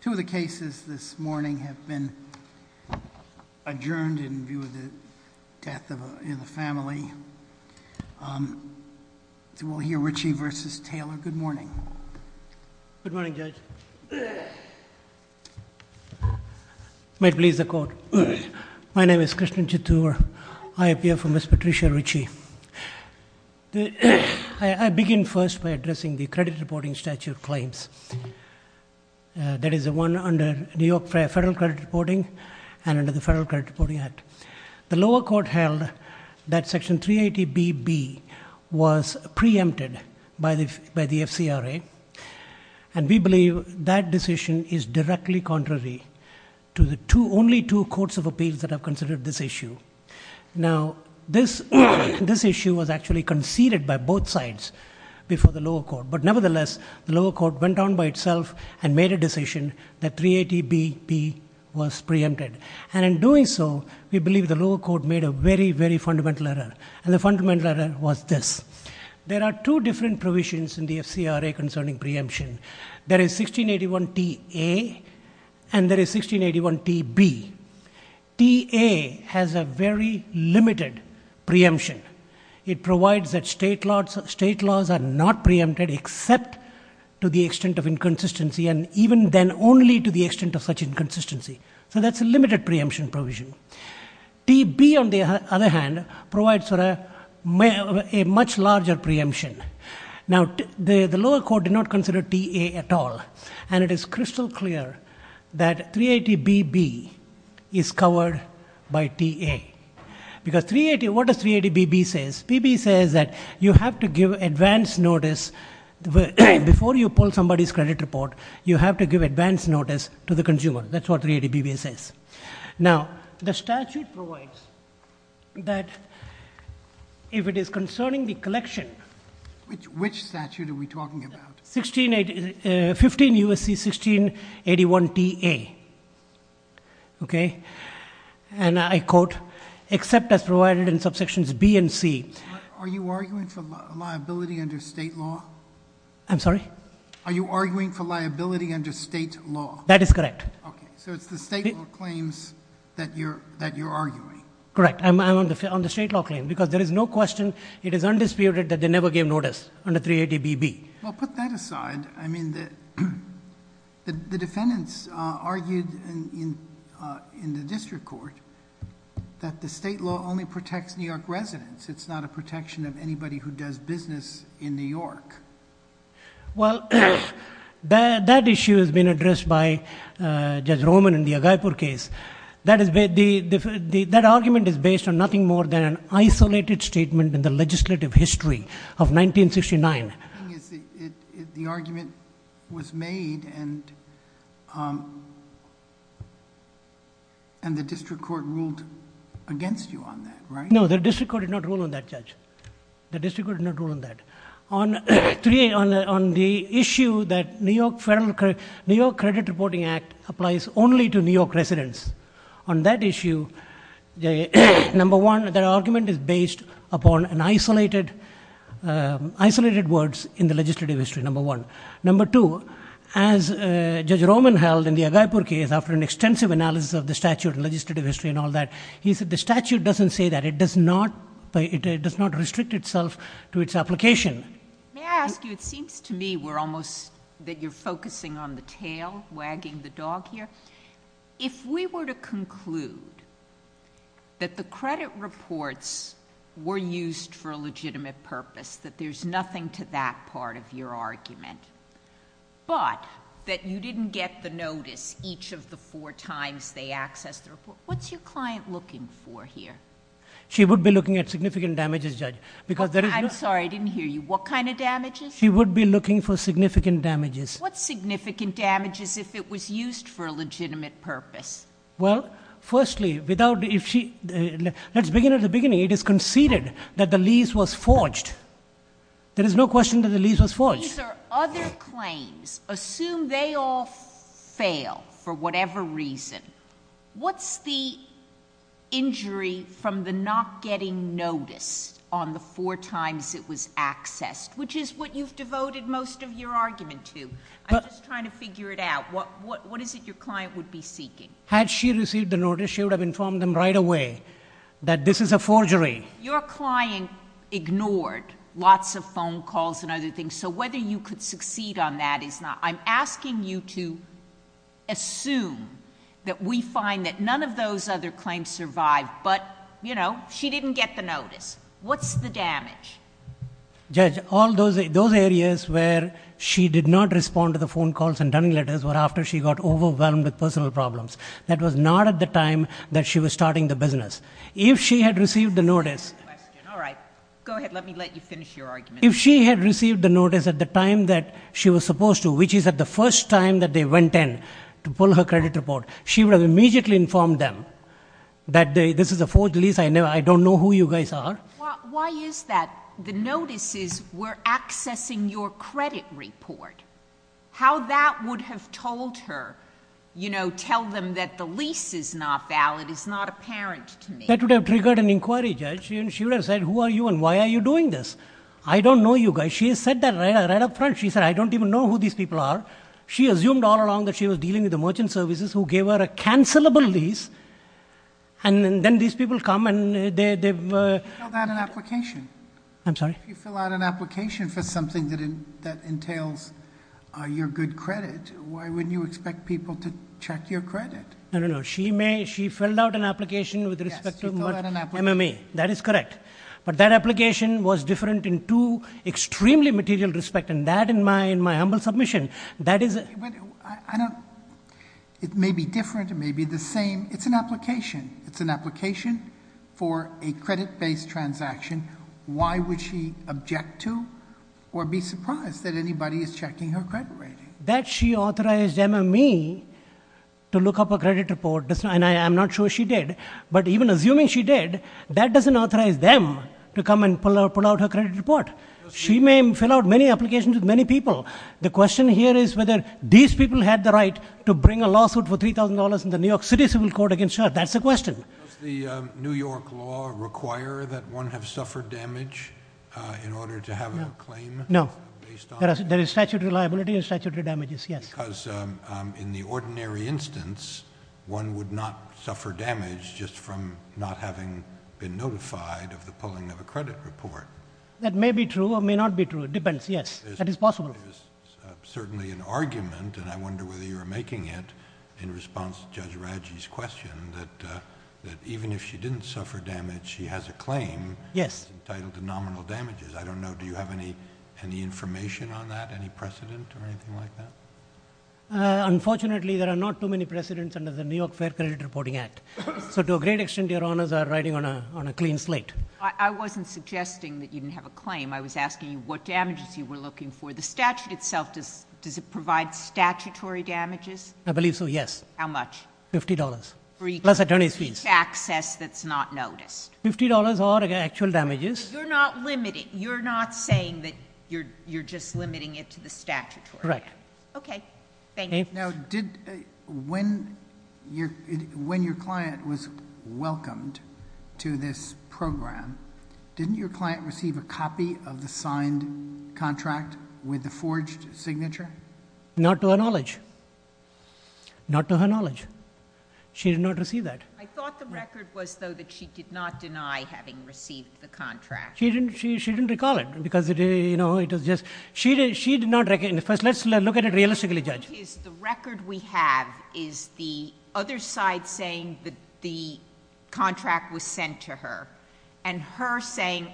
Two of the cases this morning have been adjourned in view of the death of a family. We'll hear Ritchie v. Taylor. Good morning. Good morning, Judge. Might please the Court. My name is Krishna Chittoor. I appear for Ms. Patricia Ritchie. I begin first by addressing the credit reporting statute claims. That is the one under New York Federal Credit Reporting and under the Federal Credit Reporting Act. The lower court held that Section 380BB was preempted by the FCRA, and we believe that decision is directly contrary to the only two courts of appeals that have considered this issue. Now, this issue was actually conceded by both sides before the lower court, but nevertheless, the lower court went on by itself and made a decision that 380BB was preempted. And in doing so, we believe the lower court made a very, very fundamental error, and the fundamental error was this. There are two different provisions in the FCRA concerning preemption. There is 1681TA and there is 1681TB. TA has a very limited preemption. It provides that state laws are not preempted except to the extent of inconsistency, and even then only to the extent of such inconsistency. So that's a limited preemption provision. TB, on the other hand, provides a much larger preemption. Now, the lower court did not consider TA at all, and it is crystal clear that 380BB is covered by TA. Because 380, what does 380BB say? 380BB says that you have to give advance notice before you pull somebody's credit report, you have to give advance notice to the consumer. That's what 380BB says. Now, the statute provides that if it is concerning the collection. Which statute are we talking about? 15 U.S.C. 1681TA. Okay? And I quote, except as provided in subsections B and C. Are you arguing for liability under state law? I'm sorry? Are you arguing for liability under state law? That is correct. Okay. So it's the state law claims that you're arguing. Correct. I'm on the state law claim because there is no question, it is undisputed that they never gave notice under 380BB. Well, put that aside. I mean, the defendants argued in the district court that the state law only protects New York residents. It's not a protection of anybody who does business in New York. Well, that issue has been addressed by Judge Roman in the Agaipur case. That argument is based on nothing more than an isolated statement in the legislative history of 1969. The argument was made and the district court ruled against you on that, right? No, the district court did not rule on that, Judge. The district court did not rule on that. On the issue that New York Credit Reporting Act applies only to New York residents, on that issue, number one, the argument is based upon isolated words in the legislative history, number one. Number two, as Judge Roman held in the Agaipur case after an extensive analysis of the statute and legislative history and all that, he said the statute doesn't say that. It does not restrict itself to its application. May I ask you, it seems to me that you're focusing on the tail wagging the dog here. If we were to conclude that the credit reports were used for a legitimate purpose, that there's nothing to that part of your argument, but that you didn't get the notice each of the four times they accessed the report, what's your client looking for here? She would be looking at significant damages, Judge. I'm sorry, I didn't hear you. What kind of damages? She would be looking for significant damages. What significant damages if it was used for a legitimate purpose? Well, firstly, let's begin at the beginning. It is conceded that the lease was forged. There is no question that the lease was forged. These are other claims. Assume they all fail for whatever reason. What's the injury from the not getting notice on the four times it was accessed, which is what you've devoted most of your argument to. I'm just trying to figure it out. What is it your client would be seeking? Had she received the notice, she would have informed them right away that this is a forgery. Your client ignored lots of phone calls and other things, so whether you could succeed on that is not. I'm asking you to assume that we find that none of those other claims survived, but, you know, she didn't get the notice. What's the damage? Judge, all those areas where she did not respond to the phone calls and letters were after she got overwhelmed with personal problems. That was not at the time that she was starting the business. If she had received the notice. All right. Go ahead. Let me let you finish your argument. If she had received the notice at the time that she was supposed to, which is at the first time that they went in to pull her credit report, she would have immediately informed them that this is a forged lease. I don't know who you guys are. Why is that? The notices were accessing your credit report. How that would have told her, you know, tell them that the lease is not valid is not apparent to me. That would have triggered an inquiry, Judge. She would have said, who are you and why are you doing this? I don't know you guys. She said that right up front. She said, I don't even know who these people are. She assumed all along that she was dealing with the merchant services who gave her a cancelable lease, and then these people come and they've. You filled out an application. I'm sorry? You filled out an application for something that entails your good credit. Why wouldn't you expect people to check your credit? I don't know. She may. She filled out an application with respect to MME. That is correct. But that application was different in two extremely material respect, and that in my humble submission, that is. I don't. It may be different. It may be the same. It's an application. It's an application for a credit-based transaction. Why would she object to or be surprised that anybody is checking her credit rating? That she authorized MME to look up a credit report, and I'm not sure she did, but even assuming she did, that doesn't authorize them to come and pull out her credit report. She may fill out many applications with many people. The question here is whether these people had the right to bring a lawsuit for $3,000 in the New York City Civil Court against her. That's the question. Does the New York law require that one have suffered damage in order to have a claim based on it? No. There is statutory liability and statutory damages, yes. Because in the ordinary instance, one would not suffer damage just from not having been notified of the pulling of a credit report. That may be true or may not be true. It depends. Yes, yes. That is possible. It was certainly an argument, and I wonder whether you were making it in response to Judge Radji's question, that even if she didn't suffer damage, she has a claim entitled to nominal damages. I don't know. Do you have any information on that, any precedent or anything like that? Unfortunately, there are not too many precedents under the New York Fair Credit Reporting Act. So to a great extent, your Honors are riding on a clean slate. I wasn't suggesting that you didn't have a claim. I was asking you what damages you were looking for. The statute itself, does it provide statutory damages? I believe so, yes. How much? Fifty dollars, plus attorney's fees. For each access that's not noticed. Fifty dollars are actual damages. But you're not limiting. You're not saying that you're just limiting it to the statutory. Correct. Okay. Thank you. Now, when your client was welcomed to this program, didn't your client receive a copy of the signed contract with the forged signature? Not to her knowledge. Not to her knowledge. She did not receive that. I thought the record was, though, that she did not deny having received the contract. She didn't recall it because, you know, it was just... The record we have is the other side saying that the contract was sent to her, and her saying,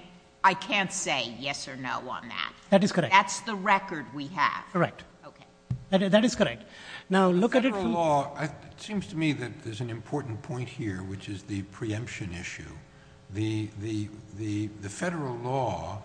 I can't say yes or no on that. That is correct. That's the record we have. Correct. Okay. That is correct. Now, look at it from... The federal law, it seems to me that there's an important point here, which is the preemption issue. The federal law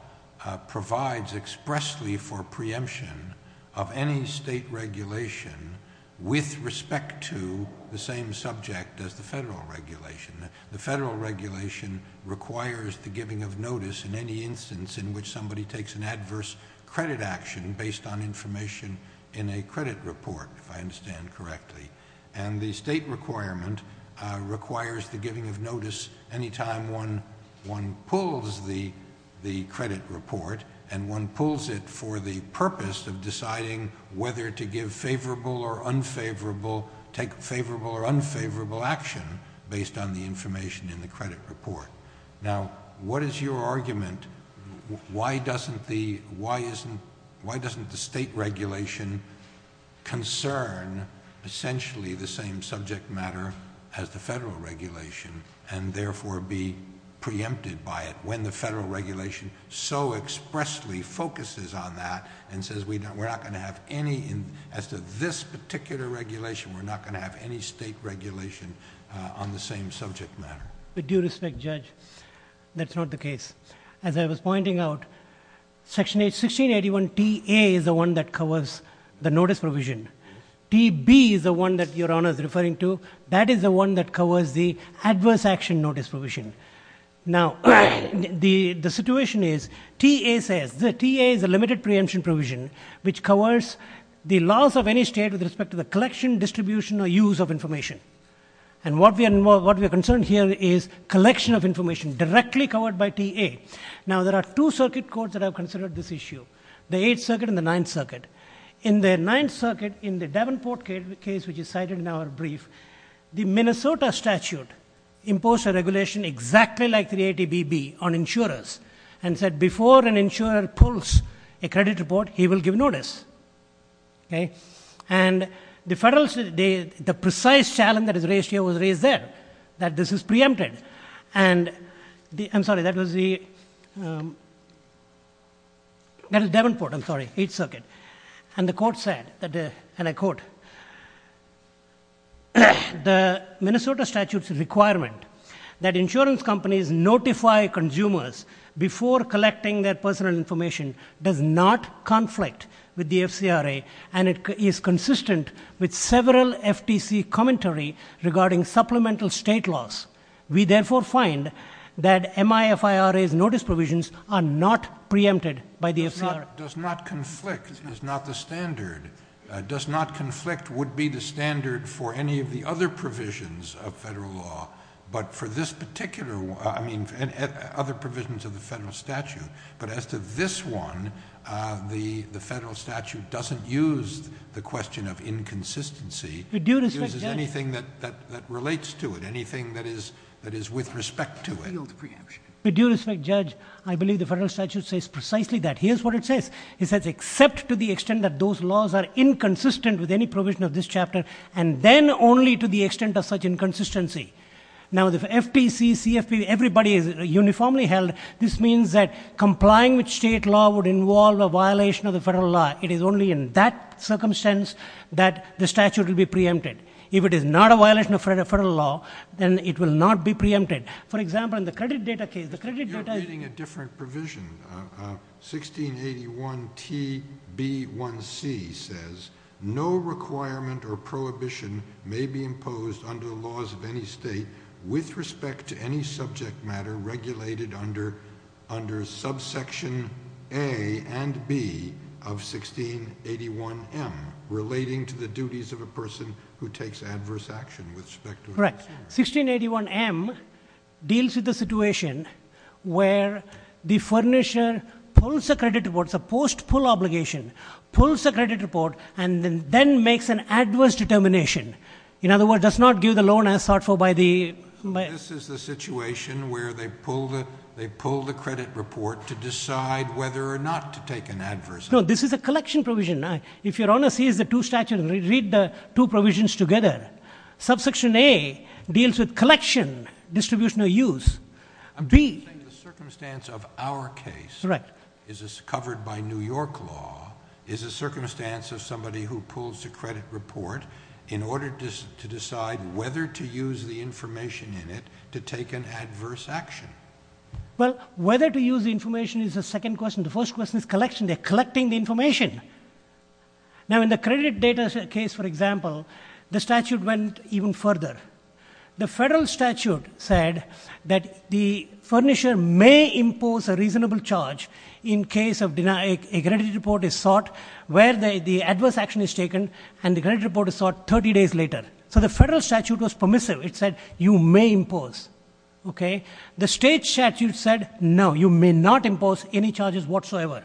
provides expressly for preemption of any state regulation with respect to the same subject as the federal regulation. The federal regulation requires the giving of notice in any instance in which somebody takes an adverse credit action based on information in a credit report, if I understand correctly. And the state requirement requires the giving of notice any time one pulls the credit report and one pulls it for the purpose of deciding whether to give favorable or unfavorable, take favorable or unfavorable action based on the information in the credit report. Now, what is your argument? Why doesn't the state regulation concern essentially the same subject matter as the federal regulation and therefore be preempted by it when the federal regulation so expressly focuses on that and says we're not going to have any... As to this particular regulation, we're not going to have any state regulation on the same subject matter. With due respect, Judge, that's not the case. As I was pointing out, Section 1681 TA is the one that covers the notice provision. TB is the one that Your Honor is referring to. That is the one that covers the adverse action notice provision. Now, the situation is TA says... TA is a limited preemption provision which covers the laws of any state with respect to the collection, distribution, or use of information. And what we are concerned here is collection of information directly covered by TA. Now, there are two circuit courts that have considered this issue, the Eighth Circuit and the Ninth Circuit. In the Ninth Circuit, in the Davenport case which is cited in our brief, the Minnesota statute imposed a regulation exactly like 380 BB on insurers and said before an insurer pulls a credit report, he will give notice. Okay? And the precise challenge that is raised here was raised there, that this is preempted. And the... I'm sorry, that was the... That is Davenport, I'm sorry, Eighth Circuit. And the court said, and I quote, the Minnesota statute's requirement that insurance companies notify consumers before collecting their personal information does not conflict with the FCRA and is consistent with several FTC commentary regarding supplemental state laws. We therefore find that MIFIRA's notice provisions are not preempted by the FCRA. Does not conflict is not the standard. Does not conflict would be the standard for any of the other provisions of federal law. But for this particular one, I mean, other provisions of the federal statute, but as to this one, the federal statute doesn't use the question of inconsistency. It uses anything that relates to it, anything that is with respect to it. With due respect, Judge, I believe the federal statute says precisely that. Here's what it says. It says except to the extent that those laws are inconsistent with any provision of this chapter and then only to the extent of such inconsistency. Now, the FTC, CFP, everybody is uniformly held. This means that complying with state law would involve a violation of the federal law. It is only in that circumstance that the statute will be preempted. If it is not a violation of federal law, then it will not be preempted. For example, in the credit data case, the credit data — You're reading a different provision. 1681TB1C says no requirement or prohibition may be imposed under the laws of any state with respect to any subject matter regulated under subsection A and B of 1681M, relating to the duties of a person who takes adverse action with respect to — Correct. 1681M deals with the situation where the furnisher pulls a credit report. It's a post-pull obligation. Pulls a credit report and then makes an adverse determination. In other words, does not give the loan as sought for by the — So this is the situation where they pull the credit report to decide whether or not to take an adverse action. No, this is a collection provision. If Your Honor sees the two statutes, read the two provisions together. Subsection A deals with collection, distribution of use. B — I'm just saying the circumstance of our case — Correct. — is covered by New York law, is a circumstance of somebody who pulls a credit report in order to decide whether to use the information in it to take an adverse action. Well, whether to use the information is the second question. The first question is collection. They're collecting the information. Now, in the credit data case, for example, the statute went even further. The federal statute said that the furnisher may impose a reasonable charge in case a credit report is sought where the adverse action is taken and the credit report is sought 30 days later. So the federal statute was permissive. It said you may impose. Okay? The state statute said, no, you may not impose any charges whatsoever.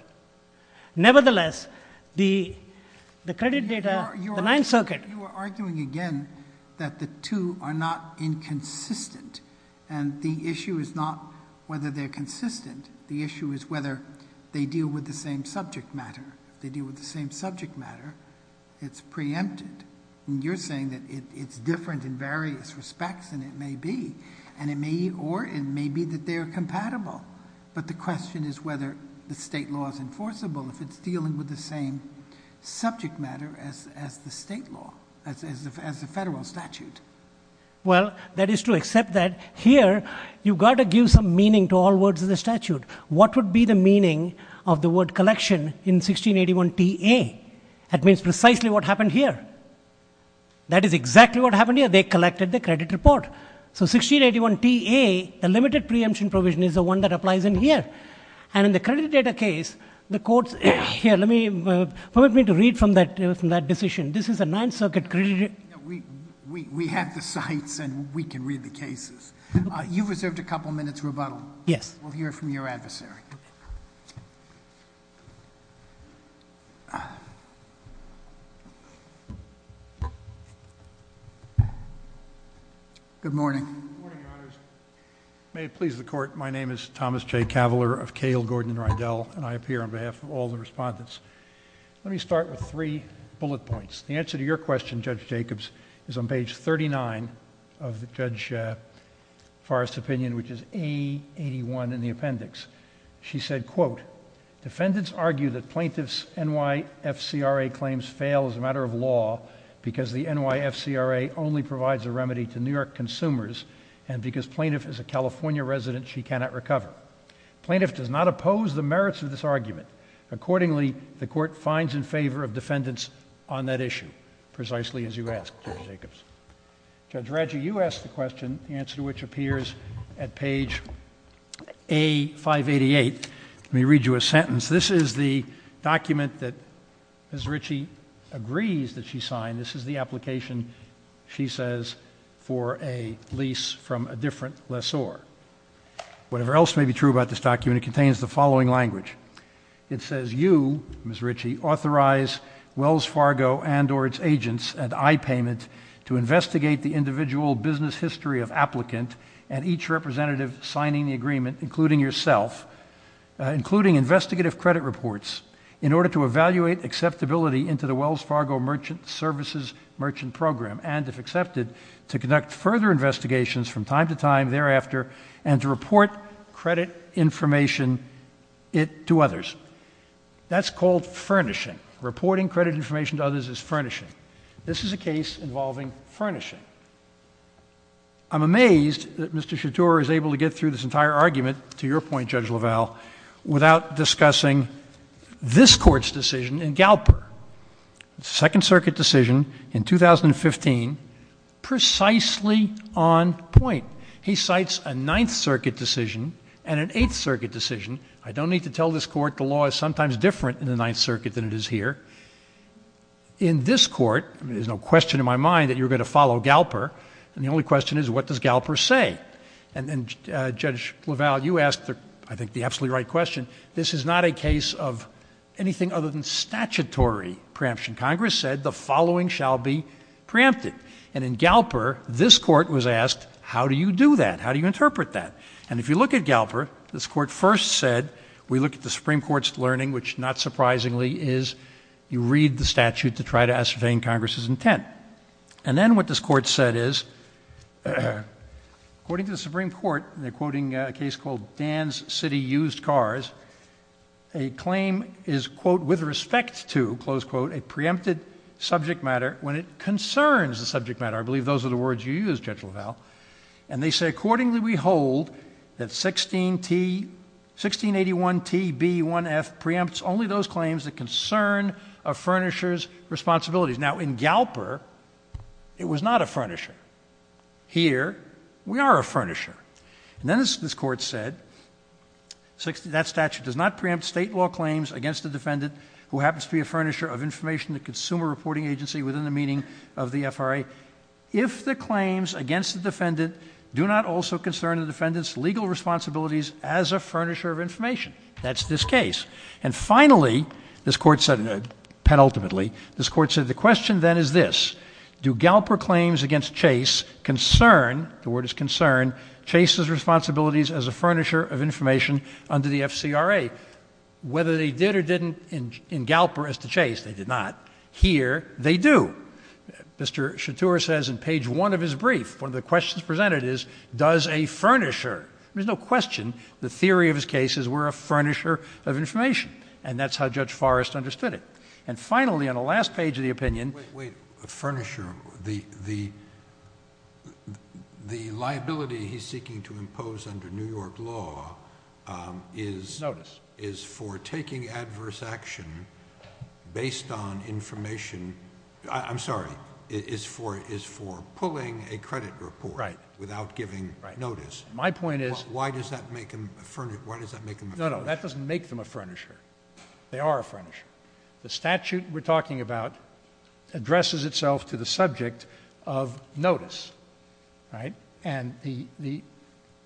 Nevertheless, the credit data, the Ninth Circuit — Your Honor, you are arguing again that the two are not inconsistent. And the issue is not whether they're consistent. The issue is whether they deal with the same subject matter. If they deal with the same subject matter, it's preempted. And you're saying that it's different in various respects, and it may be. And it may or it may be that they are compatible. But the question is whether the state law is enforceable if it's dealing with the same subject matter as the state law, as the federal statute. Well, that is to accept that here you've got to give some meaning to all words in the statute. What would be the meaning of the word collection in 1681 TA? That means precisely what happened here. That is exactly what happened here. They collected the credit report. So 1681 TA, the limited preemption provision is the one that applies in here. And in the credit data case, the courts — here, let me — permit me to read from that decision. This is a Ninth Circuit credit — We have the cites, and we can read the cases. You've reserved a couple minutes rebuttal. Yes. We'll hear from your adversary. Good morning. Good morning, Your Honors. May it please the Court. My name is Thomas J. Cavalier of Cahill, Gordon, and Rydell, and I appear on behalf of all the respondents. Let me start with three bullet points. The answer to your question, Judge Jacobs, is on page 39 of Judge Forrest's opinion, which is A81 in the appendix. She said, quote, Precisely as you asked, Judge Jacobs. Judge Raggi, you asked the question, the answer to which appears at page A588. Let me read you a sentence. This is the document that Ms. Ritchie agrees that she signed. This is the application, she says, for a lease from a different lessor. Whatever else may be true about this document, it contains the following language. It says, to investigate the individual business history of applicant and each representative signing the agreement, including yourself, including investigative credit reports, in order to evaluate acceptability into the Wells Fargo Merchant Services Merchant Program and, if accepted, to conduct further investigations from time to time thereafter and to report credit information to others. That's called furnishing. Reporting credit information to others is furnishing. This is a case involving furnishing. I'm amazed that Mr. Chatur is able to get through this entire argument, to your point, Judge LaValle, without discussing this Court's decision in Galper, the Second Circuit decision in 2015, precisely on point. He cites a Ninth Circuit decision and an Eighth Circuit decision. I don't need to tell this Court the law is sometimes different in the Ninth Circuit than it is here. In this Court, there's no question in my mind that you're going to follow Galper, and the only question is, what does Galper say? And, Judge LaValle, you asked, I think, the absolutely right question. This is not a case of anything other than statutory preemption. Congress said the following shall be preempted. And in Galper, this Court was asked, how do you do that? How do you interpret that? And if you look at Galper, this Court first said, we look at the Supreme Court's learning, which, not surprisingly, is you read the statute to try to ascertain Congress's intent. And then what this Court said is, according to the Supreme Court, they're quoting a case called Dan's City Used Cars, a claim is, quote, with respect to, close quote, a preempted subject matter when it concerns the subject matter. I believe those are the words you used, Judge LaValle. And they say, accordingly, we hold that 1681TB1F preempts only those claims that concern a furnisher's responsibilities. Now, in Galper, it was not a furnisher. Here, we are a furnisher. And then this Court said, that statute does not preempt state law claims against a defendant who happens to be a furnisher of information to a consumer reporting agency within the meaning of the FRA if the claims against the defendant do not also concern the defendant's legal responsibilities as a furnisher of information. That's this case. And finally, this Court said, penultimately, this Court said, the question, then, is this. Do Galper claims against Chase concern, the word is concern, Chase's responsibilities as a furnisher of information under the FCRA? Whether they did or didn't in Galper as to Chase, they did not. Here, they do. Mr. Chatur says in page one of his brief, one of the questions presented is, does a furnisher? There's no question. The theory of his case is we're a furnisher of information. And that's how Judge Forrest understood it. And finally, on the last page of the opinion. Wait, wait. A furnisher. The liability he's seeking to impose under New York law is for taking adverse action based on information, I'm sorry, is for pulling a credit report without giving notice. My point is. Why does that make them a furnisher? No, no, that doesn't make them a furnisher. They are a furnisher. The statute we're talking about addresses itself to the subject of notice. And Mr.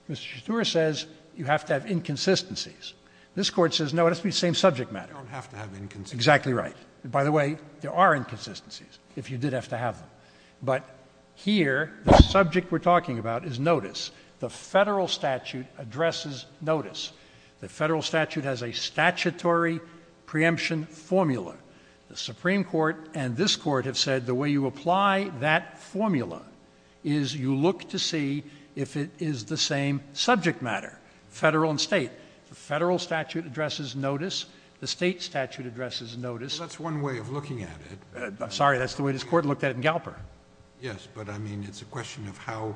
Chatur says you have to have inconsistencies. This Court says, no, it has to be the same subject matter. You don't have to have inconsistencies. Exactly right. By the way, there are inconsistencies if you did have to have them. But here, the subject we're talking about is notice. The federal statute addresses notice. The federal statute has a statutory preemption formula. The Supreme Court and this Court have said the way you apply that formula is you look to see if it is the same subject matter, federal and state. The federal statute addresses notice. The state statute addresses notice. Well, that's one way of looking at it. I'm sorry, that's the way this Court looked at it in Galper. Yes, but, I mean, it's a question of how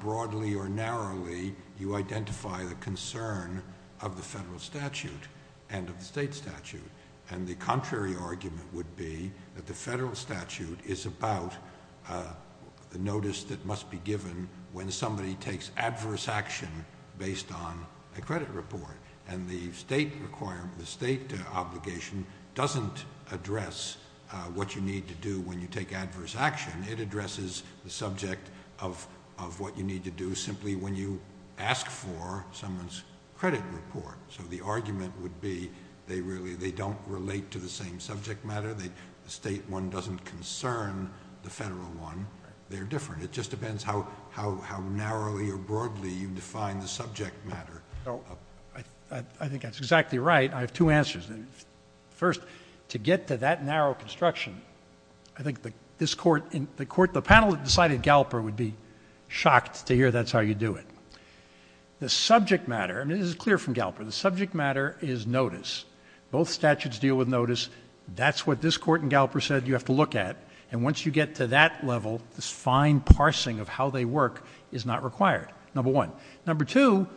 broadly or narrowly you identify the concern of the federal statute and of the state statute. And the contrary argument would be that the federal statute is about the notice that must be given when somebody takes adverse action based on a credit report. And the state obligation doesn't address what you need to do when you take adverse action. It addresses the subject of what you need to do simply when you ask for someone's credit report. So the argument would be they don't relate to the same subject matter. The state one doesn't concern the federal one. They're different. It just depends how narrowly or broadly you define the subject matter. I think that's exactly right. I have two answers. First, to get to that narrow construction, I think this Court, the panel that decided Galper, would be shocked to hear that's how you do it. The subject matter, and this is clear from Galper, the subject matter is notice. Both statutes deal with notice. That's what this Court in Galper said you have to look at. And once you get to that level, this fine parsing of how they work is not required, number one. Number two,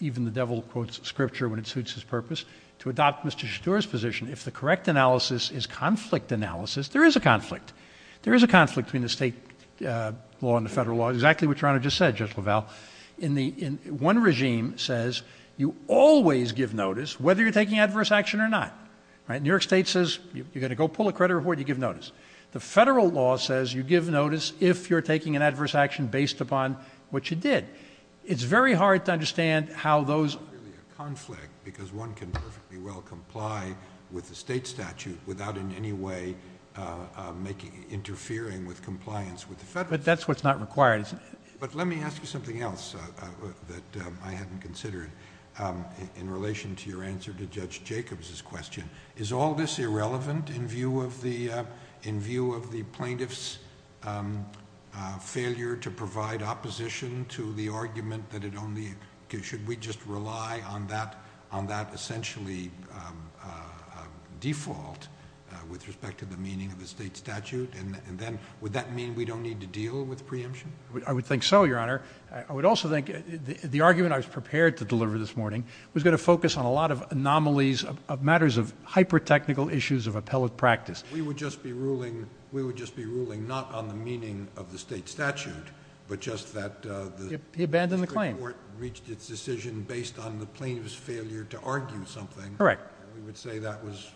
even the devil quotes scripture when it suits his purpose, to adopt Mr. Chateau's position, if the correct analysis is conflict analysis, there is a conflict. There is a conflict between the state law and the federal law, exactly what Your Honor just said, Judge LaValle. One regime says you always give notice whether you're taking adverse action or not. New York State says you're going to go pull a credit report, you give notice. The federal law says you give notice if you're taking an adverse action based upon what you did. It's very hard to understand how those... It's not really a conflict because one can perfectly well comply with the state statute without in any way interfering with compliance with the federal... But that's what's not required. But let me ask you something else that I hadn't considered. In relation to your answer to Judge Jacobs' question, is all this irrelevant in view of the plaintiff's failure to provide opposition to the argument that it only... Should we just rely on that essentially default with respect to the meaning of the state statute? And then would that mean we don't need to deal with preemption? I would think so, Your Honor. I would also think the argument I was prepared to deliver this morning was going to focus on a lot of anomalies, matters of hyper-technical issues of appellate practice. We would just be ruling not on the meaning of the state statute, but just that the Supreme Court... He abandoned the claim.... reached its decision based on the plaintiff's failure to argue something. Correct. We would say that was...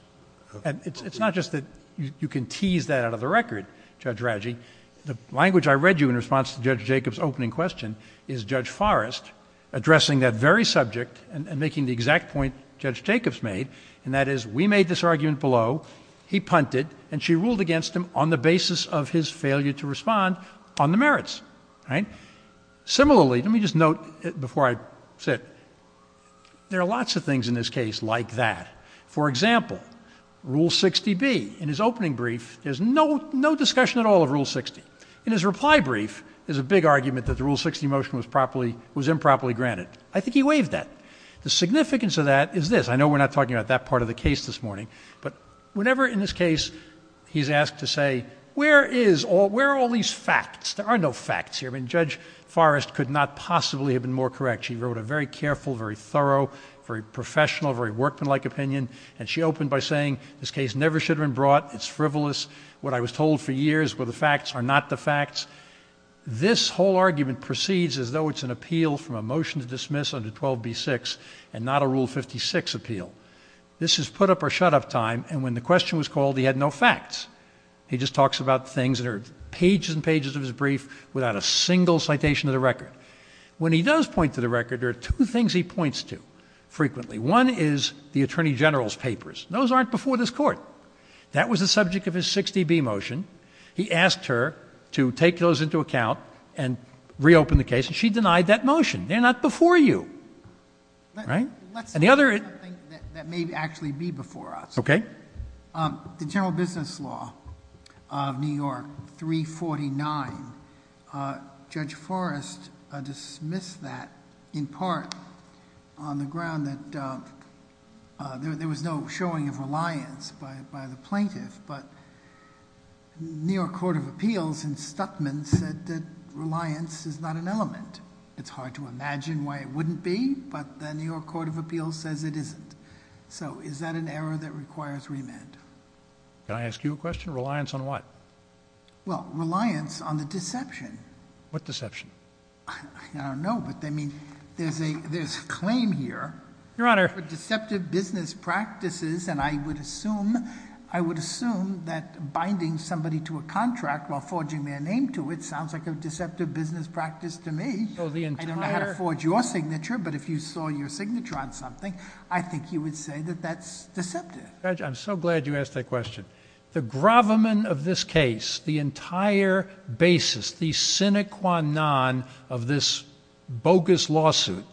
And it's not just that you can tease that out of the record, Judge Radji. The language I read you in response to Judge Jacobs' opening question is Judge Forrest addressing that very subject... and making the exact point Judge Jacobs made. And that is, we made this argument below. He punted and she ruled against him on the basis of his failure to respond on the merits. All right. Similarly, let me just note before I sit. There are lots of things in this case like that. For example, Rule 60B. In his opening brief, there's no discussion at all of Rule 60. In his reply brief, there's a big argument that the Rule 60 motion was improperly granted. I think he waived that. The significance of that is this. I know we're not talking about that part of the case this morning. But whenever in this case, he's asked to say, where is all... where are all these facts? There are no facts here. I mean, Judge Forrest could not possibly have been more correct. She wrote a very careful, very thorough, very professional, very workmanlike opinion. And she opened by saying, this case never should have been brought. It's frivolous. What I was told for years were the facts are not the facts. This whole argument proceeds as though it's an appeal from a motion to dismiss under 12B.6 and not a Rule 56 appeal. This is put-up-or-shut-up time. And when the question was called, he had no facts. He just talks about things that are pages and pages of his brief without a single citation of the record. When he does point to the record, there are two things he points to frequently. One is the Attorney General's papers. Those aren't before this Court. That was the subject of his 60B motion. He asked her to take those into account and reopen the case, and she denied that motion. They're not before you. Right? And the other... Let's say something that may actually be before us. Okay. The general business law of New York 349, Judge Forrest dismissed that in part on the ground that there was no showing of reliance by the plaintiff. But New York Court of Appeals in Stuttman said that reliance is not an element. It's hard to imagine why it wouldn't be, but the New York Court of Appeals says it isn't. So is that an error that requires remand? Can I ask you a question? Reliance on what? Well, reliance on the deception. What deception? I don't know, but, I mean, there's a claim here... Your Honor...... for deceptive business practices, and I would assume... I would assume that binding somebody to a contract while forging their name to it sounds like a deceptive business practice to me. So the entire... Judge, I'm so glad you asked that question. The gravamen of this case, the entire basis, the sine qua non of this bogus lawsuit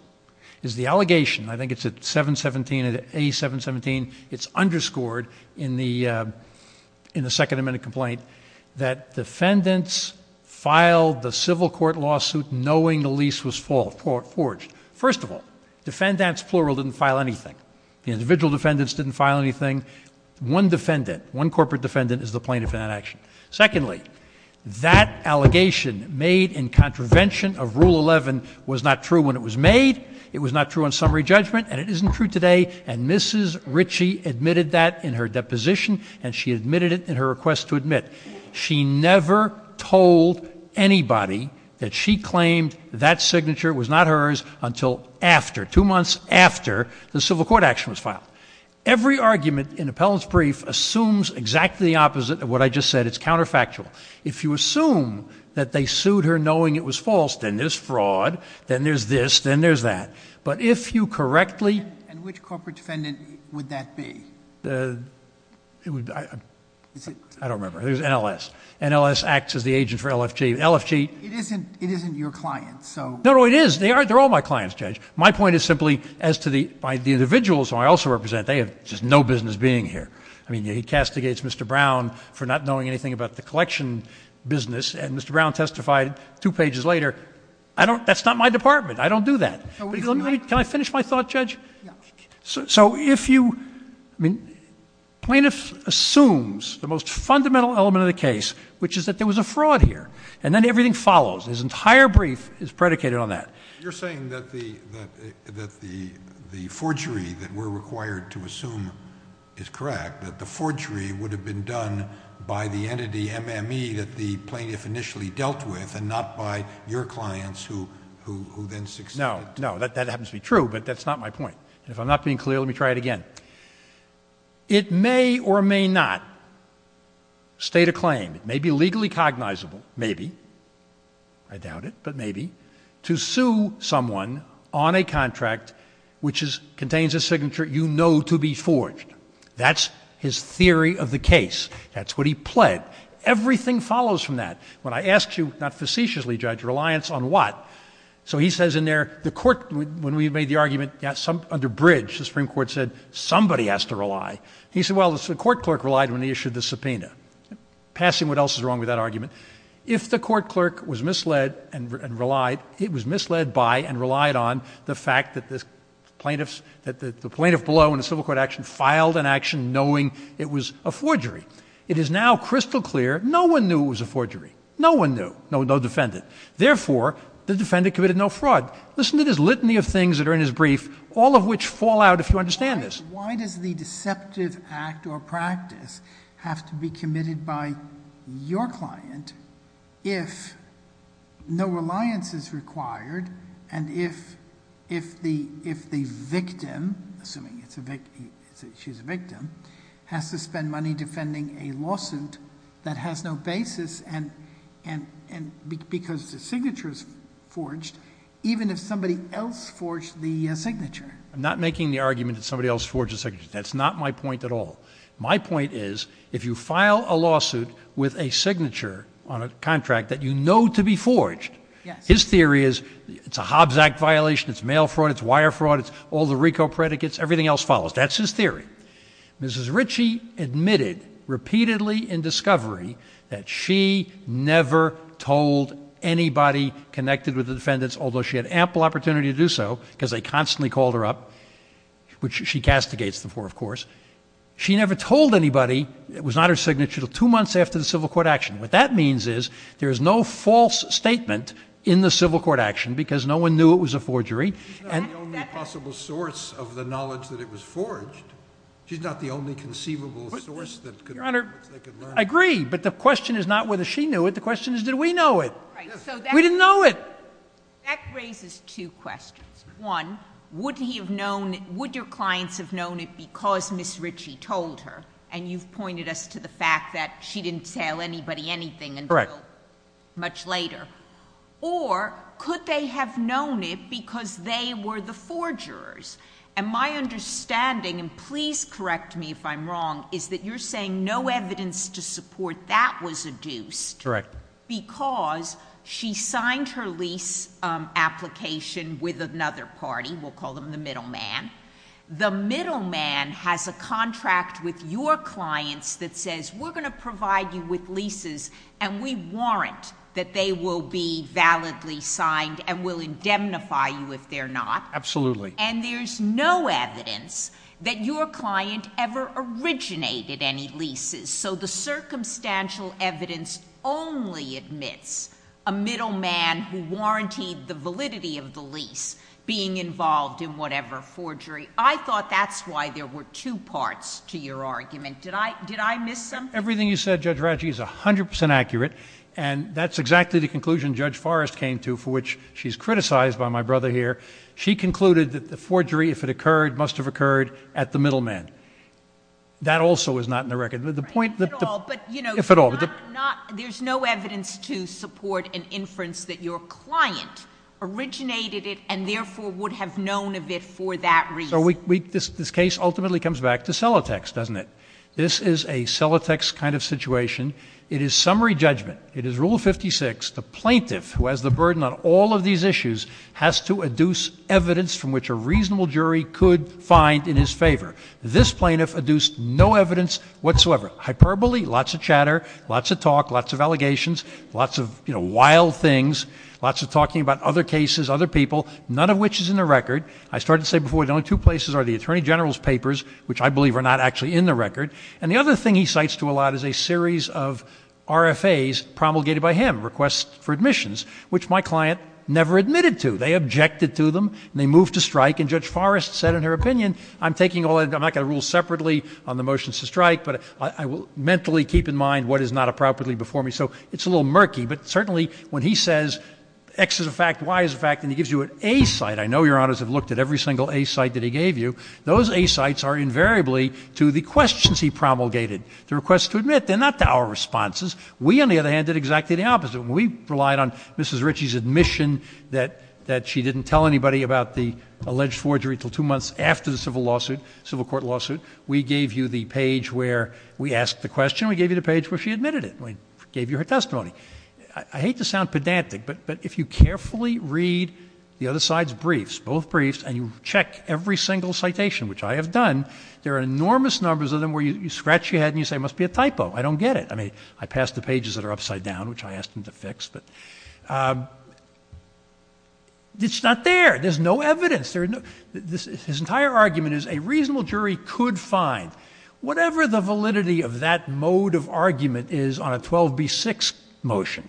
is the allegation. I think it's at 717, at A717. It's underscored in the Second Amendment complaint that defendants filed the civil court lawsuit knowing the lease was forged. First of all, defendants plural didn't file anything. The individual defendants didn't file anything. One defendant, one corporate defendant is the plaintiff in that action. Secondly, that allegation made in contravention of Rule 11 was not true when it was made. It was not true on summary judgment, and it isn't true today. And Mrs. Ritchie admitted that in her deposition, and she admitted it in her request to admit. She never told anybody that she claimed that signature was not hers until after, two months after the civil court action was filed. Every argument in appellant's brief assumes exactly the opposite of what I just said. It's counterfactual. If you assume that they sued her knowing it was false, then there's fraud, then there's this, then there's that. But if you correctly... And which corporate defendant would that be? I don't remember. It was NLS. NLS acts as the agent for LFG. LFG... It isn't your client, so... No, no, it is. They're all my clients, Judge. My point is simply as to the individuals who I also represent, they have just no business being here. I mean, he castigates Mr. Brown for not knowing anything about the collection business, and Mr. Brown testified two pages later, that's not my department. I don't do that. Can I finish my thought, Judge? Yeah. So if you... I mean, plaintiff assumes the most fundamental element of the case, which is that there was a fraud here, and then everything follows. His entire brief is predicated on that. You're saying that the forgery that we're required to assume is correct, that the forgery would have been done by the entity MME that the plaintiff initially dealt with and not by your clients who then succeeded. No, no, that happens to be true, but that's not my point. If I'm not being clear, let me try it again. It may or may not state a claim, it may be legally cognizable, maybe, I doubt it, but maybe, to sue someone on a contract which contains a signature you know to be forged. That's his theory of the case. That's what he pled. Everything follows from that. When I asked you, not facetiously, Judge, reliance on what? So he says in there, the court, when we made the argument under bridge, the Supreme Court said, somebody has to rely. He said, well, the court clerk relied when he issued the subpoena. Passing what else is wrong with that argument? If the court clerk was misled and relied, it was misled by and relied on the fact that the plaintiffs, that the plaintiff below in a civil court action filed an action knowing it was a forgery. It is now crystal clear, no one knew it was a forgery. No one knew. No defendant. Therefore, the defendant committed no fraud. Listen to this litany of things that are in his brief, all of which fall out if you understand this. Why does the deceptive act or practice have to be committed by your client if no reliance is required and if the victim, assuming she's a victim, has to spend money defending a lawsuit that has no basis and because the signature is forged, even if somebody else forged the signature? I'm not making the argument that somebody else forged the signature. That's not my point at all. My point is if you file a lawsuit with a signature on a contract that you know to be forged, his theory is it's a Hobbs Act violation, it's mail fraud, it's wire fraud, it's all the RICO predicates, everything else follows. That's his theory. Mrs. Ritchie admitted repeatedly in discovery that she never told anybody connected with the defendants, although she had ample opportunity to do so because they constantly called her up, which she castigates them for, of course. She never told anybody it was not her signature until two months after the civil court action. What that means is there is no false statement in the civil court action because no one knew it was a forgery. She's not the only possible source of the knowledge that it was forged. She's not the only conceivable source that they could learn. Your Honor, I agree, but the question is not whether she knew it. The question is did we know it. We didn't know it. That raises two questions. One, would your clients have known it because Mrs. Ritchie told her, and you've pointed us to the fact that she didn't tell anybody anything until much later, or could they have known it because they were the forgers? And my understanding, and please correct me if I'm wrong, is that you're saying no evidence to support that was adduced. Correct. Because she signed her lease application with another party. We'll call them the middle man. The middle man has a contract with your clients that says we're going to provide you with leases and we warrant that they will be validly signed and will indemnify you if they're not. Absolutely. And there's no evidence that your client ever originated any leases. So the circumstantial evidence only admits a middle man who warrantied the validity of the lease being involved in whatever forgery. I thought that's why there were two parts to your argument. Did I miss something? Everything you said, Judge Ritchie, is 100% accurate, and that's exactly the conclusion Judge Forrest came to for which she's criticized by my brother here. She concluded that the forgery, if it occurred, must have occurred at the middle man. That also is not in the record. If at all. There's no evidence to support an inference that your client originated it and therefore would have known of it for that reason. So this case ultimately comes back to Celotex, doesn't it? This is a Celotex kind of situation. It is summary judgment. It is Rule 56. The plaintiff, who has the burden on all of these issues, has to adduce evidence from which a reasonable jury could find in his favor. This plaintiff adduced no evidence whatsoever. Hyperbole, lots of chatter, lots of talk, lots of allegations, lots of, you know, wild things, lots of talking about other cases, other people, none of which is in the record. I started to say before, the only two places are the attorney general's papers, which I believe are not actually in the record. And the other thing he cites to a lot is a series of RFAs promulgated by him, requests for admissions, which my client never admitted to. They objected to them and they moved to strike. And Judge Forrest said in her opinion, I'm taking all that. I'm not going to rule separately on the motions to strike, but I will mentally keep in mind what is not appropriately before me. So it's a little murky. But certainly when he says X is a fact, Y is a fact, and he gives you an A site, I know your honors have looked at every single A site that he gave you. Those A sites are invariably to the questions he promulgated, the requests to admit. They're not to our responses. We, on the other hand, did exactly the opposite. We relied on Mrs. Ritchie's admission that she didn't tell anybody about the alleged forgery until two months after the civil lawsuit, civil court lawsuit. We gave you the page where we asked the question. We gave you the page where she admitted it. We gave you her testimony. I hate to sound pedantic, but if you carefully read the other side's briefs, both briefs, and you check every single citation, which I have done, there are enormous numbers of them where you scratch your head and you say it must be a typo. I don't get it. I mean, I passed the pages that are upside down, which I asked him to fix. But it's not there. There's no evidence. His entire argument is a reasonable jury could find whatever the validity of that mode of argument is on a 12B6 motion.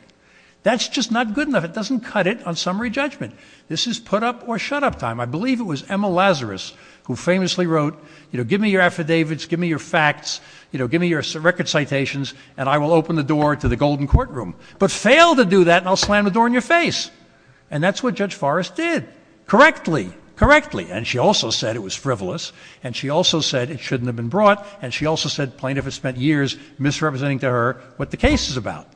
That's just not good enough. It doesn't cut it on summary judgment. This is put-up or shut-up time. I believe it was Emma Lazarus who famously wrote, you know, give me your affidavits, give me your facts, you know, give me your record citations, and I will open the door to the golden courtroom. But fail to do that, and I'll slam the door in your face. And that's what Judge Forrest did. Correctly. Correctly. And she also said it was frivolous, and she also said it shouldn't have been brought, and she also said plaintiff has spent years misrepresenting to her what the case is about,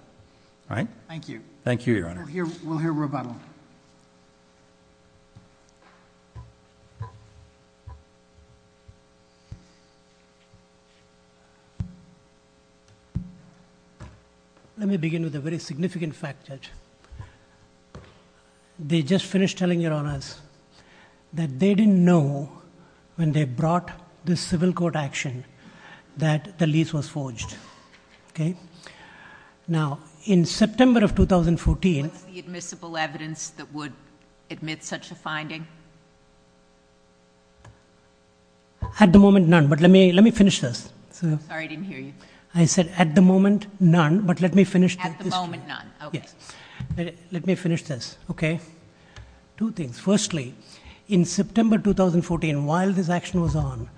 right? Thank you. Thank you, Your Honor. We'll hear rebuttal. They just finished telling, Your Honors, that they didn't know when they brought the civil court action that the lease was forged. Okay? Now, in September of 2014. What's the admissible evidence that would admit such a finding? At the moment, none, but let me finish this. Sorry, I didn't hear you. I said at the moment, none, but let me finish. At the moment, none. Let me finish this. Okay? Two things. Firstly, in September 2014, while this action was on,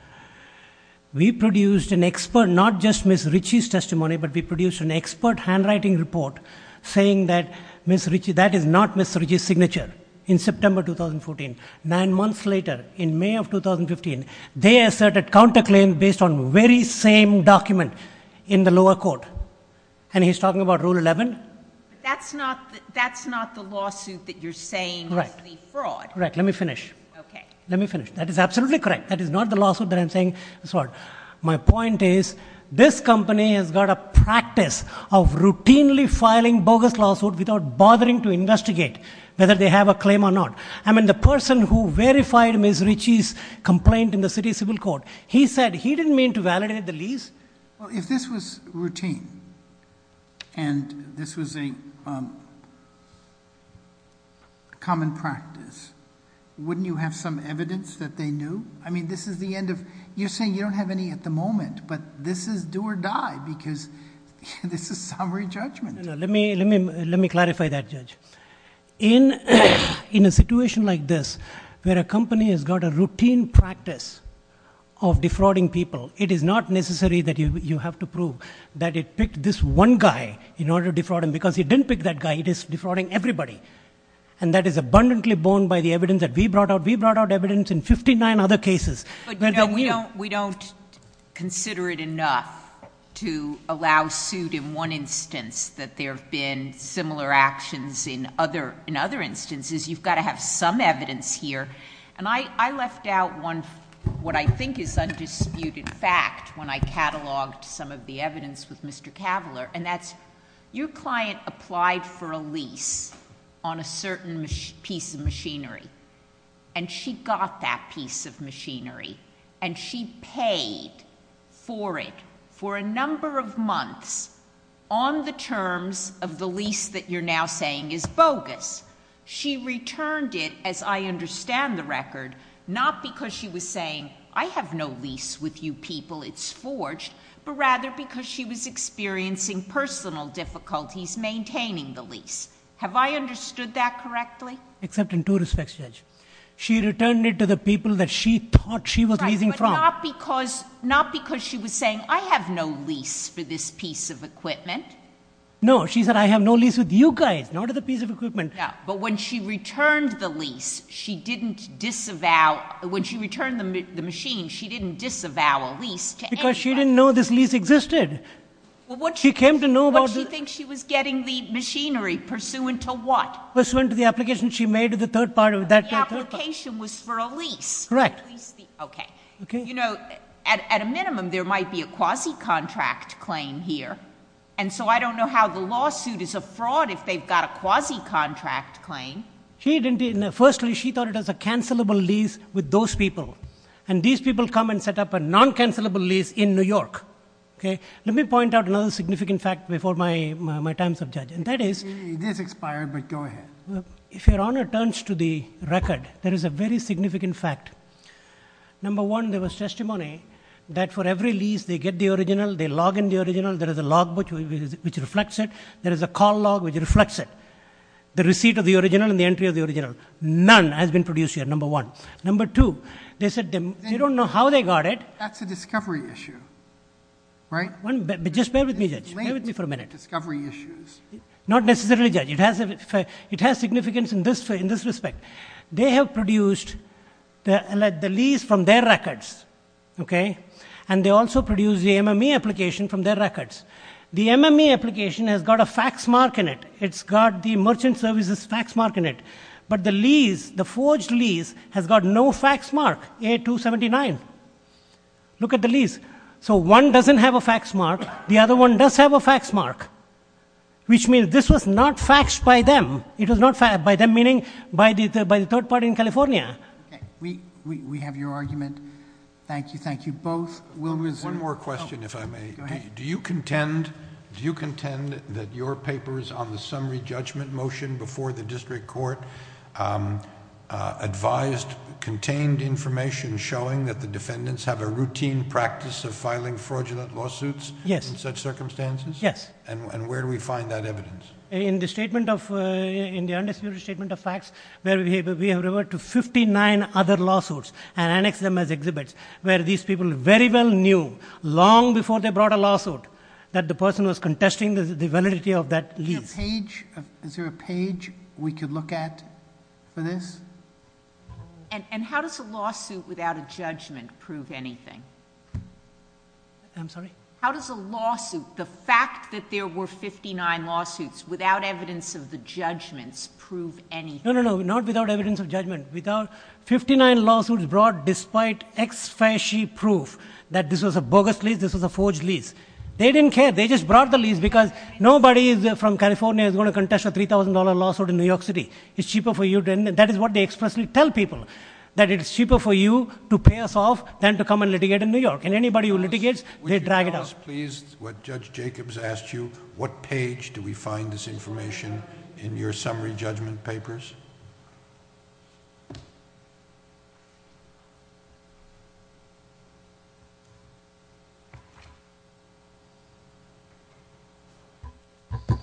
we produced an expert, not just Ms. Ritchie's testimony, but we produced an expert handwriting report saying that Ms. Ritchie, that is not Ms. Ritchie's signature. In September 2014, nine months later, in May of 2015, they asserted counterclaim based on very same document in the lower court. And he's talking about Rule 11? That's not the lawsuit that you're saying is the fraud. Right. Let me finish. Okay. Let me finish. That is absolutely correct. That is not the lawsuit that I'm saying is fraud. My point is, this company has got a practice of routinely filing bogus lawsuits without bothering to investigate whether they have a claim or not. I mean, the person who verified Ms. Ritchie's complaint in the city civil court, he said he didn't mean to validate the lease. Well, if this was routine and this was a common practice, wouldn't you have some evidence that they knew? I mean, this is the end of, you're saying you don't have any at the moment, but this is do or die because this is summary judgment. In a situation like this, where a company has got a routine practice of defrauding people, it is not necessary that you have to prove that it picked this one guy in order to defraud him because it didn't pick that guy. It is defrauding everybody. And that is abundantly borne by the evidence that we brought out. We brought out evidence in 59 other cases. We don't consider it enough to allow suit in one instance that there have been similar actions in other instances. You've got to have some evidence here. And I left out one, what I think is undisputed fact when I cataloged some of the evidence with Mr. Cavalier. And that's, your client applied for a lease on a certain piece of machinery. And she got that piece of machinery. And she paid for it for a number of months on the terms of the lease that you're now saying is bogus. She returned it, as I understand the record, not because she was saying, I have no lease with you people, it's forged, but rather because she was experiencing personal difficulties maintaining the lease. Have I understood that correctly? Except in two respects, Judge. She returned it to the people that she thought she was leasing from. Right, but not because she was saying, I have no lease for this piece of equipment. No, she said, I have no lease with you guys, not at the piece of equipment. No, but when she returned the lease, she didn't disavow, when she returned the machine, she didn't disavow a lease to anybody. Because she didn't know this lease existed. What she thinks she was getting the machinery pursuant to what? Pursuant to the application she made to the third party. The application was for a lease. Correct. Okay. You know, at a minimum, there might be a quasi-contract claim here. And so I don't know how the lawsuit is a fraud if they've got a quasi-contract claim. Firstly, she thought it was a cancelable lease with those people. And these people come and set up a non-cancelable lease in New York. Let me point out another significant fact before my time's up, Judge. It is expired, but go ahead. If Your Honor turns to the record, there is a very significant fact. Number one, there was testimony that for every lease they get the original, they log in the original, there is a log which reflects it. There is a call log which reflects it. The receipt of the original and the entry of the original. None has been produced here, number one. Number two, they said they don't know how they got it... That's a discovery issue, right? Just bear with me, Judge. Bear with me for a minute. Not necessarily, Judge. It has significance in this respect. They have produced the lease from their records, okay? And they also produced the MME application from their records. The MME application has got a fax mark in it. It's got the merchant services fax mark in it. But the lease, the forged lease, has got no fax mark, A279. Look at the lease. So one doesn't have a fax mark. The other one does have a fax mark, which means this was not faxed by them. It was not faxed by them, meaning by the third party in California. Okay. We have your argument. Thank you. Thank you both. We'll resume. One more question, if I may. Go ahead. Do you contend that your papers on the summary judgment motion before the district court advised contained information showing that the defendants have a routine practice of filing fraudulent lawsuits? Yes. In such circumstances? Yes. And where do we find that evidence? In the understated statement of facts where we have referred to 59 other lawsuits and annexed them as exhibits where these people very well knew long before they brought a lawsuit that the person was contesting the validity of that lease. Is there a page we could look at for this? And how does a lawsuit without a judgment prove anything? I'm sorry? How does a lawsuit, the fact that there were 59 lawsuits without evidence of the judgments prove anything? No, no, no. Not without evidence of judgment. Without 59 lawsuits brought despite ex-facie proof that this was a bogus lease, this was a forged lease. They didn't care. They just brought the lease because nobody from California is going to contest a $3,000 lawsuit in New York City. It's cheaper for you. And that is what they expressly tell people, that it's cheaper for you to pay us off than to come and litigate in New York. And anybody who litigates, they drag it out. Would you tell us please, what Judge Jacobs asked you, what page do we find this information in your summary judgment papers? Okay. Okay.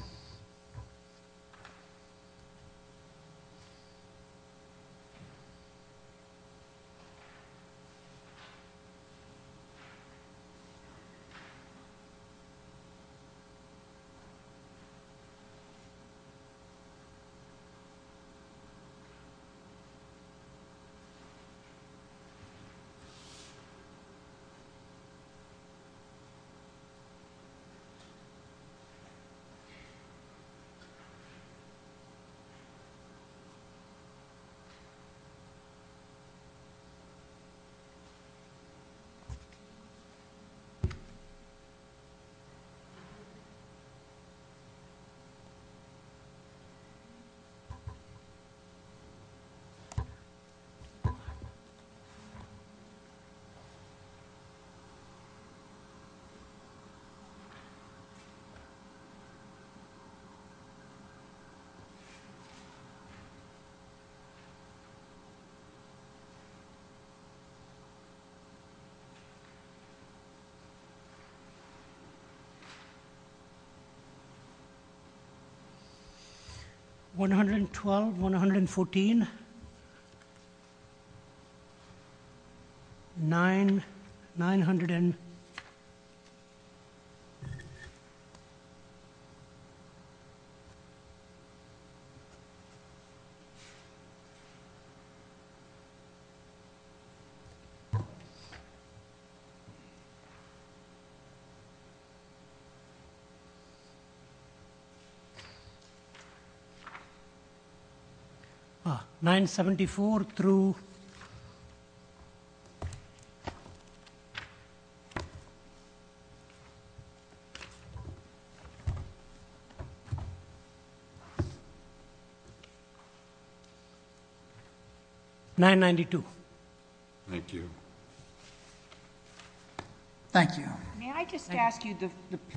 112, 114. 9, 900. 974 through 992. Thank you. Thank you. May I just ask you, the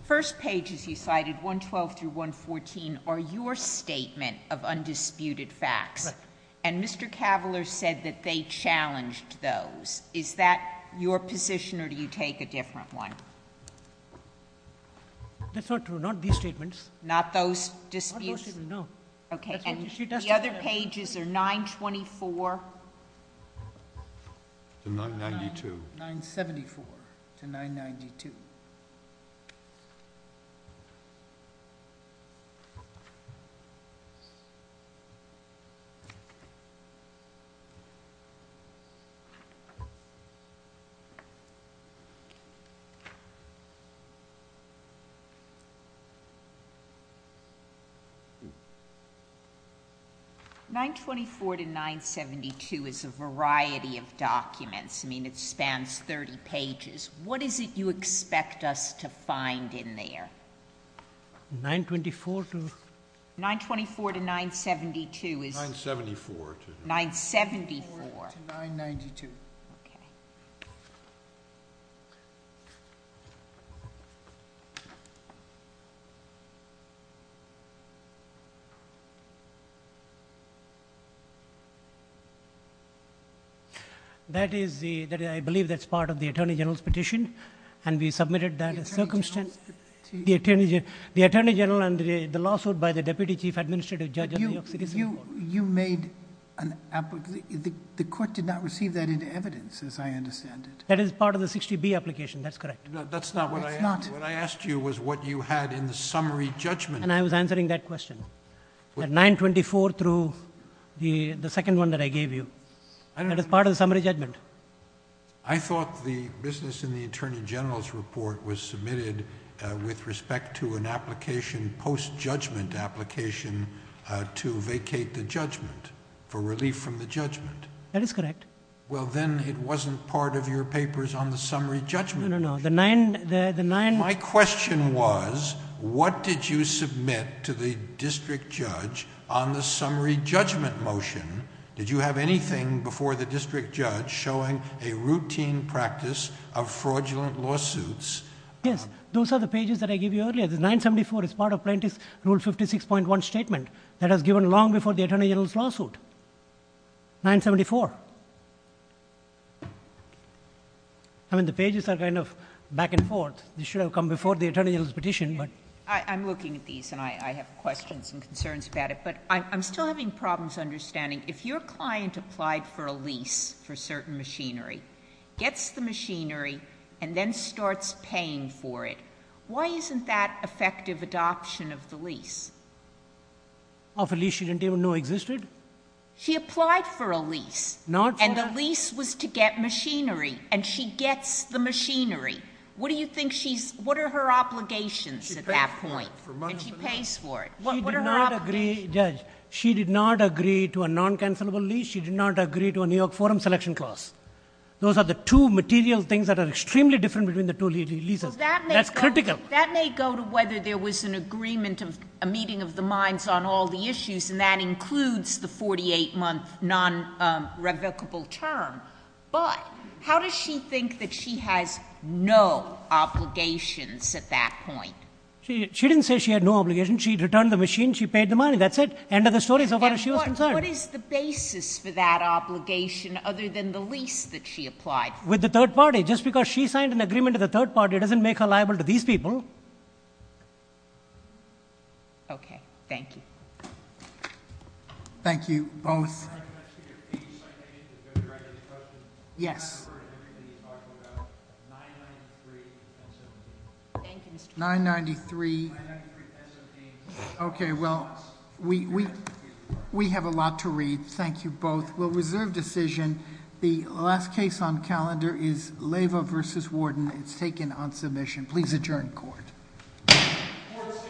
first pages you cited, 112 through 114, are your statement of undisputed facts. Correct. And Mr. Cavalier said that they challenged those. Is that your position or do you take a different one? That's not true. Not these statements. Not those disputes? Not those statements, no. Okay. And the other pages are 924? To 992. 974 to 992. 924 to 972 is a variety of documents. I mean, it spans 30 pages. What is it you expect us to find in there? 924 to? 924 to 972 is? 974. 974. To 992. Okay. Thank you. That is the... I believe that's part of the Attorney General's petition. And we submitted that as circumstance... The Attorney General... The Attorney General and the lawsuit by the Deputy Chief Administrative Judge of New York City... You made an... The court did not receive that in evidence as I understand it. That is part of the 60B application. That's correct. That's not what I... It's not. What I asked you was what you had in the summary judgment. And I was answering that question. At 924 through the second one that I gave you. That is part of the summary judgment. I thought the business in the Attorney General's report was submitted with respect to an application, post-judgment application, to vacate the judgment for relief from the judgment. That is correct. Well, then it wasn't part of your papers on the summary judgment. No, no, no. The nine... My question was what did you submit to the District Judge on the summary judgment motion? Did you have anything before the District Judge showing a routine practice of fraudulent lawsuits? Yes. Those are the pages that I gave you earlier. The 974 is part of Plaintiff's Rule 56.1 statement that was given long before the Attorney General's lawsuit. 974. I mean, the pages are kind of back and forth. They should have come before the Attorney General's petition, but... I'm looking at these, and I have questions and concerns about it. But I'm still having problems understanding. If your client applied for a lease for certain machinery, gets the machinery, and then starts paying for it, why isn't that effective adoption of the lease? Of a lease she didn't even know existed? She applied for a lease. And the lease was to get machinery, and she gets the machinery. What do you think she's... what are her obligations at that point? And she pays for it. What are her obligations? She did not agree, Judge. She did not agree to a non-cancellable lease. She did not agree to a New York Forum selection clause. Those are the two material things that are extremely different between the two leases. That's critical. That may go to whether there was an agreement of a meeting of the minds on all the issues, and that includes the 48-month non-revocable term. But how does she think that she has no obligations at that point? She didn't say she had no obligations. She returned the machine. She paid the money. That's it. End of the story as far as she was concerned. What is the basis for that obligation other than the lease that she applied for? With the third party. Just because she signed an agreement with the third party doesn't make her liable to these people. Okay. Thank you. Thank you, both. Can I come back to your piece? I think it's a good direction of the question. Yes. I haven't heard everything you talked about. 993 and 17. Thank you, Mr.... 993... 993 and 17. Okay. Well, we have a lot to read. Thank you, both. Well, reserve decision. The last case on calendar is Leyva v. Warden. It's taken on submission. Please adjourn court. Court is adjourned.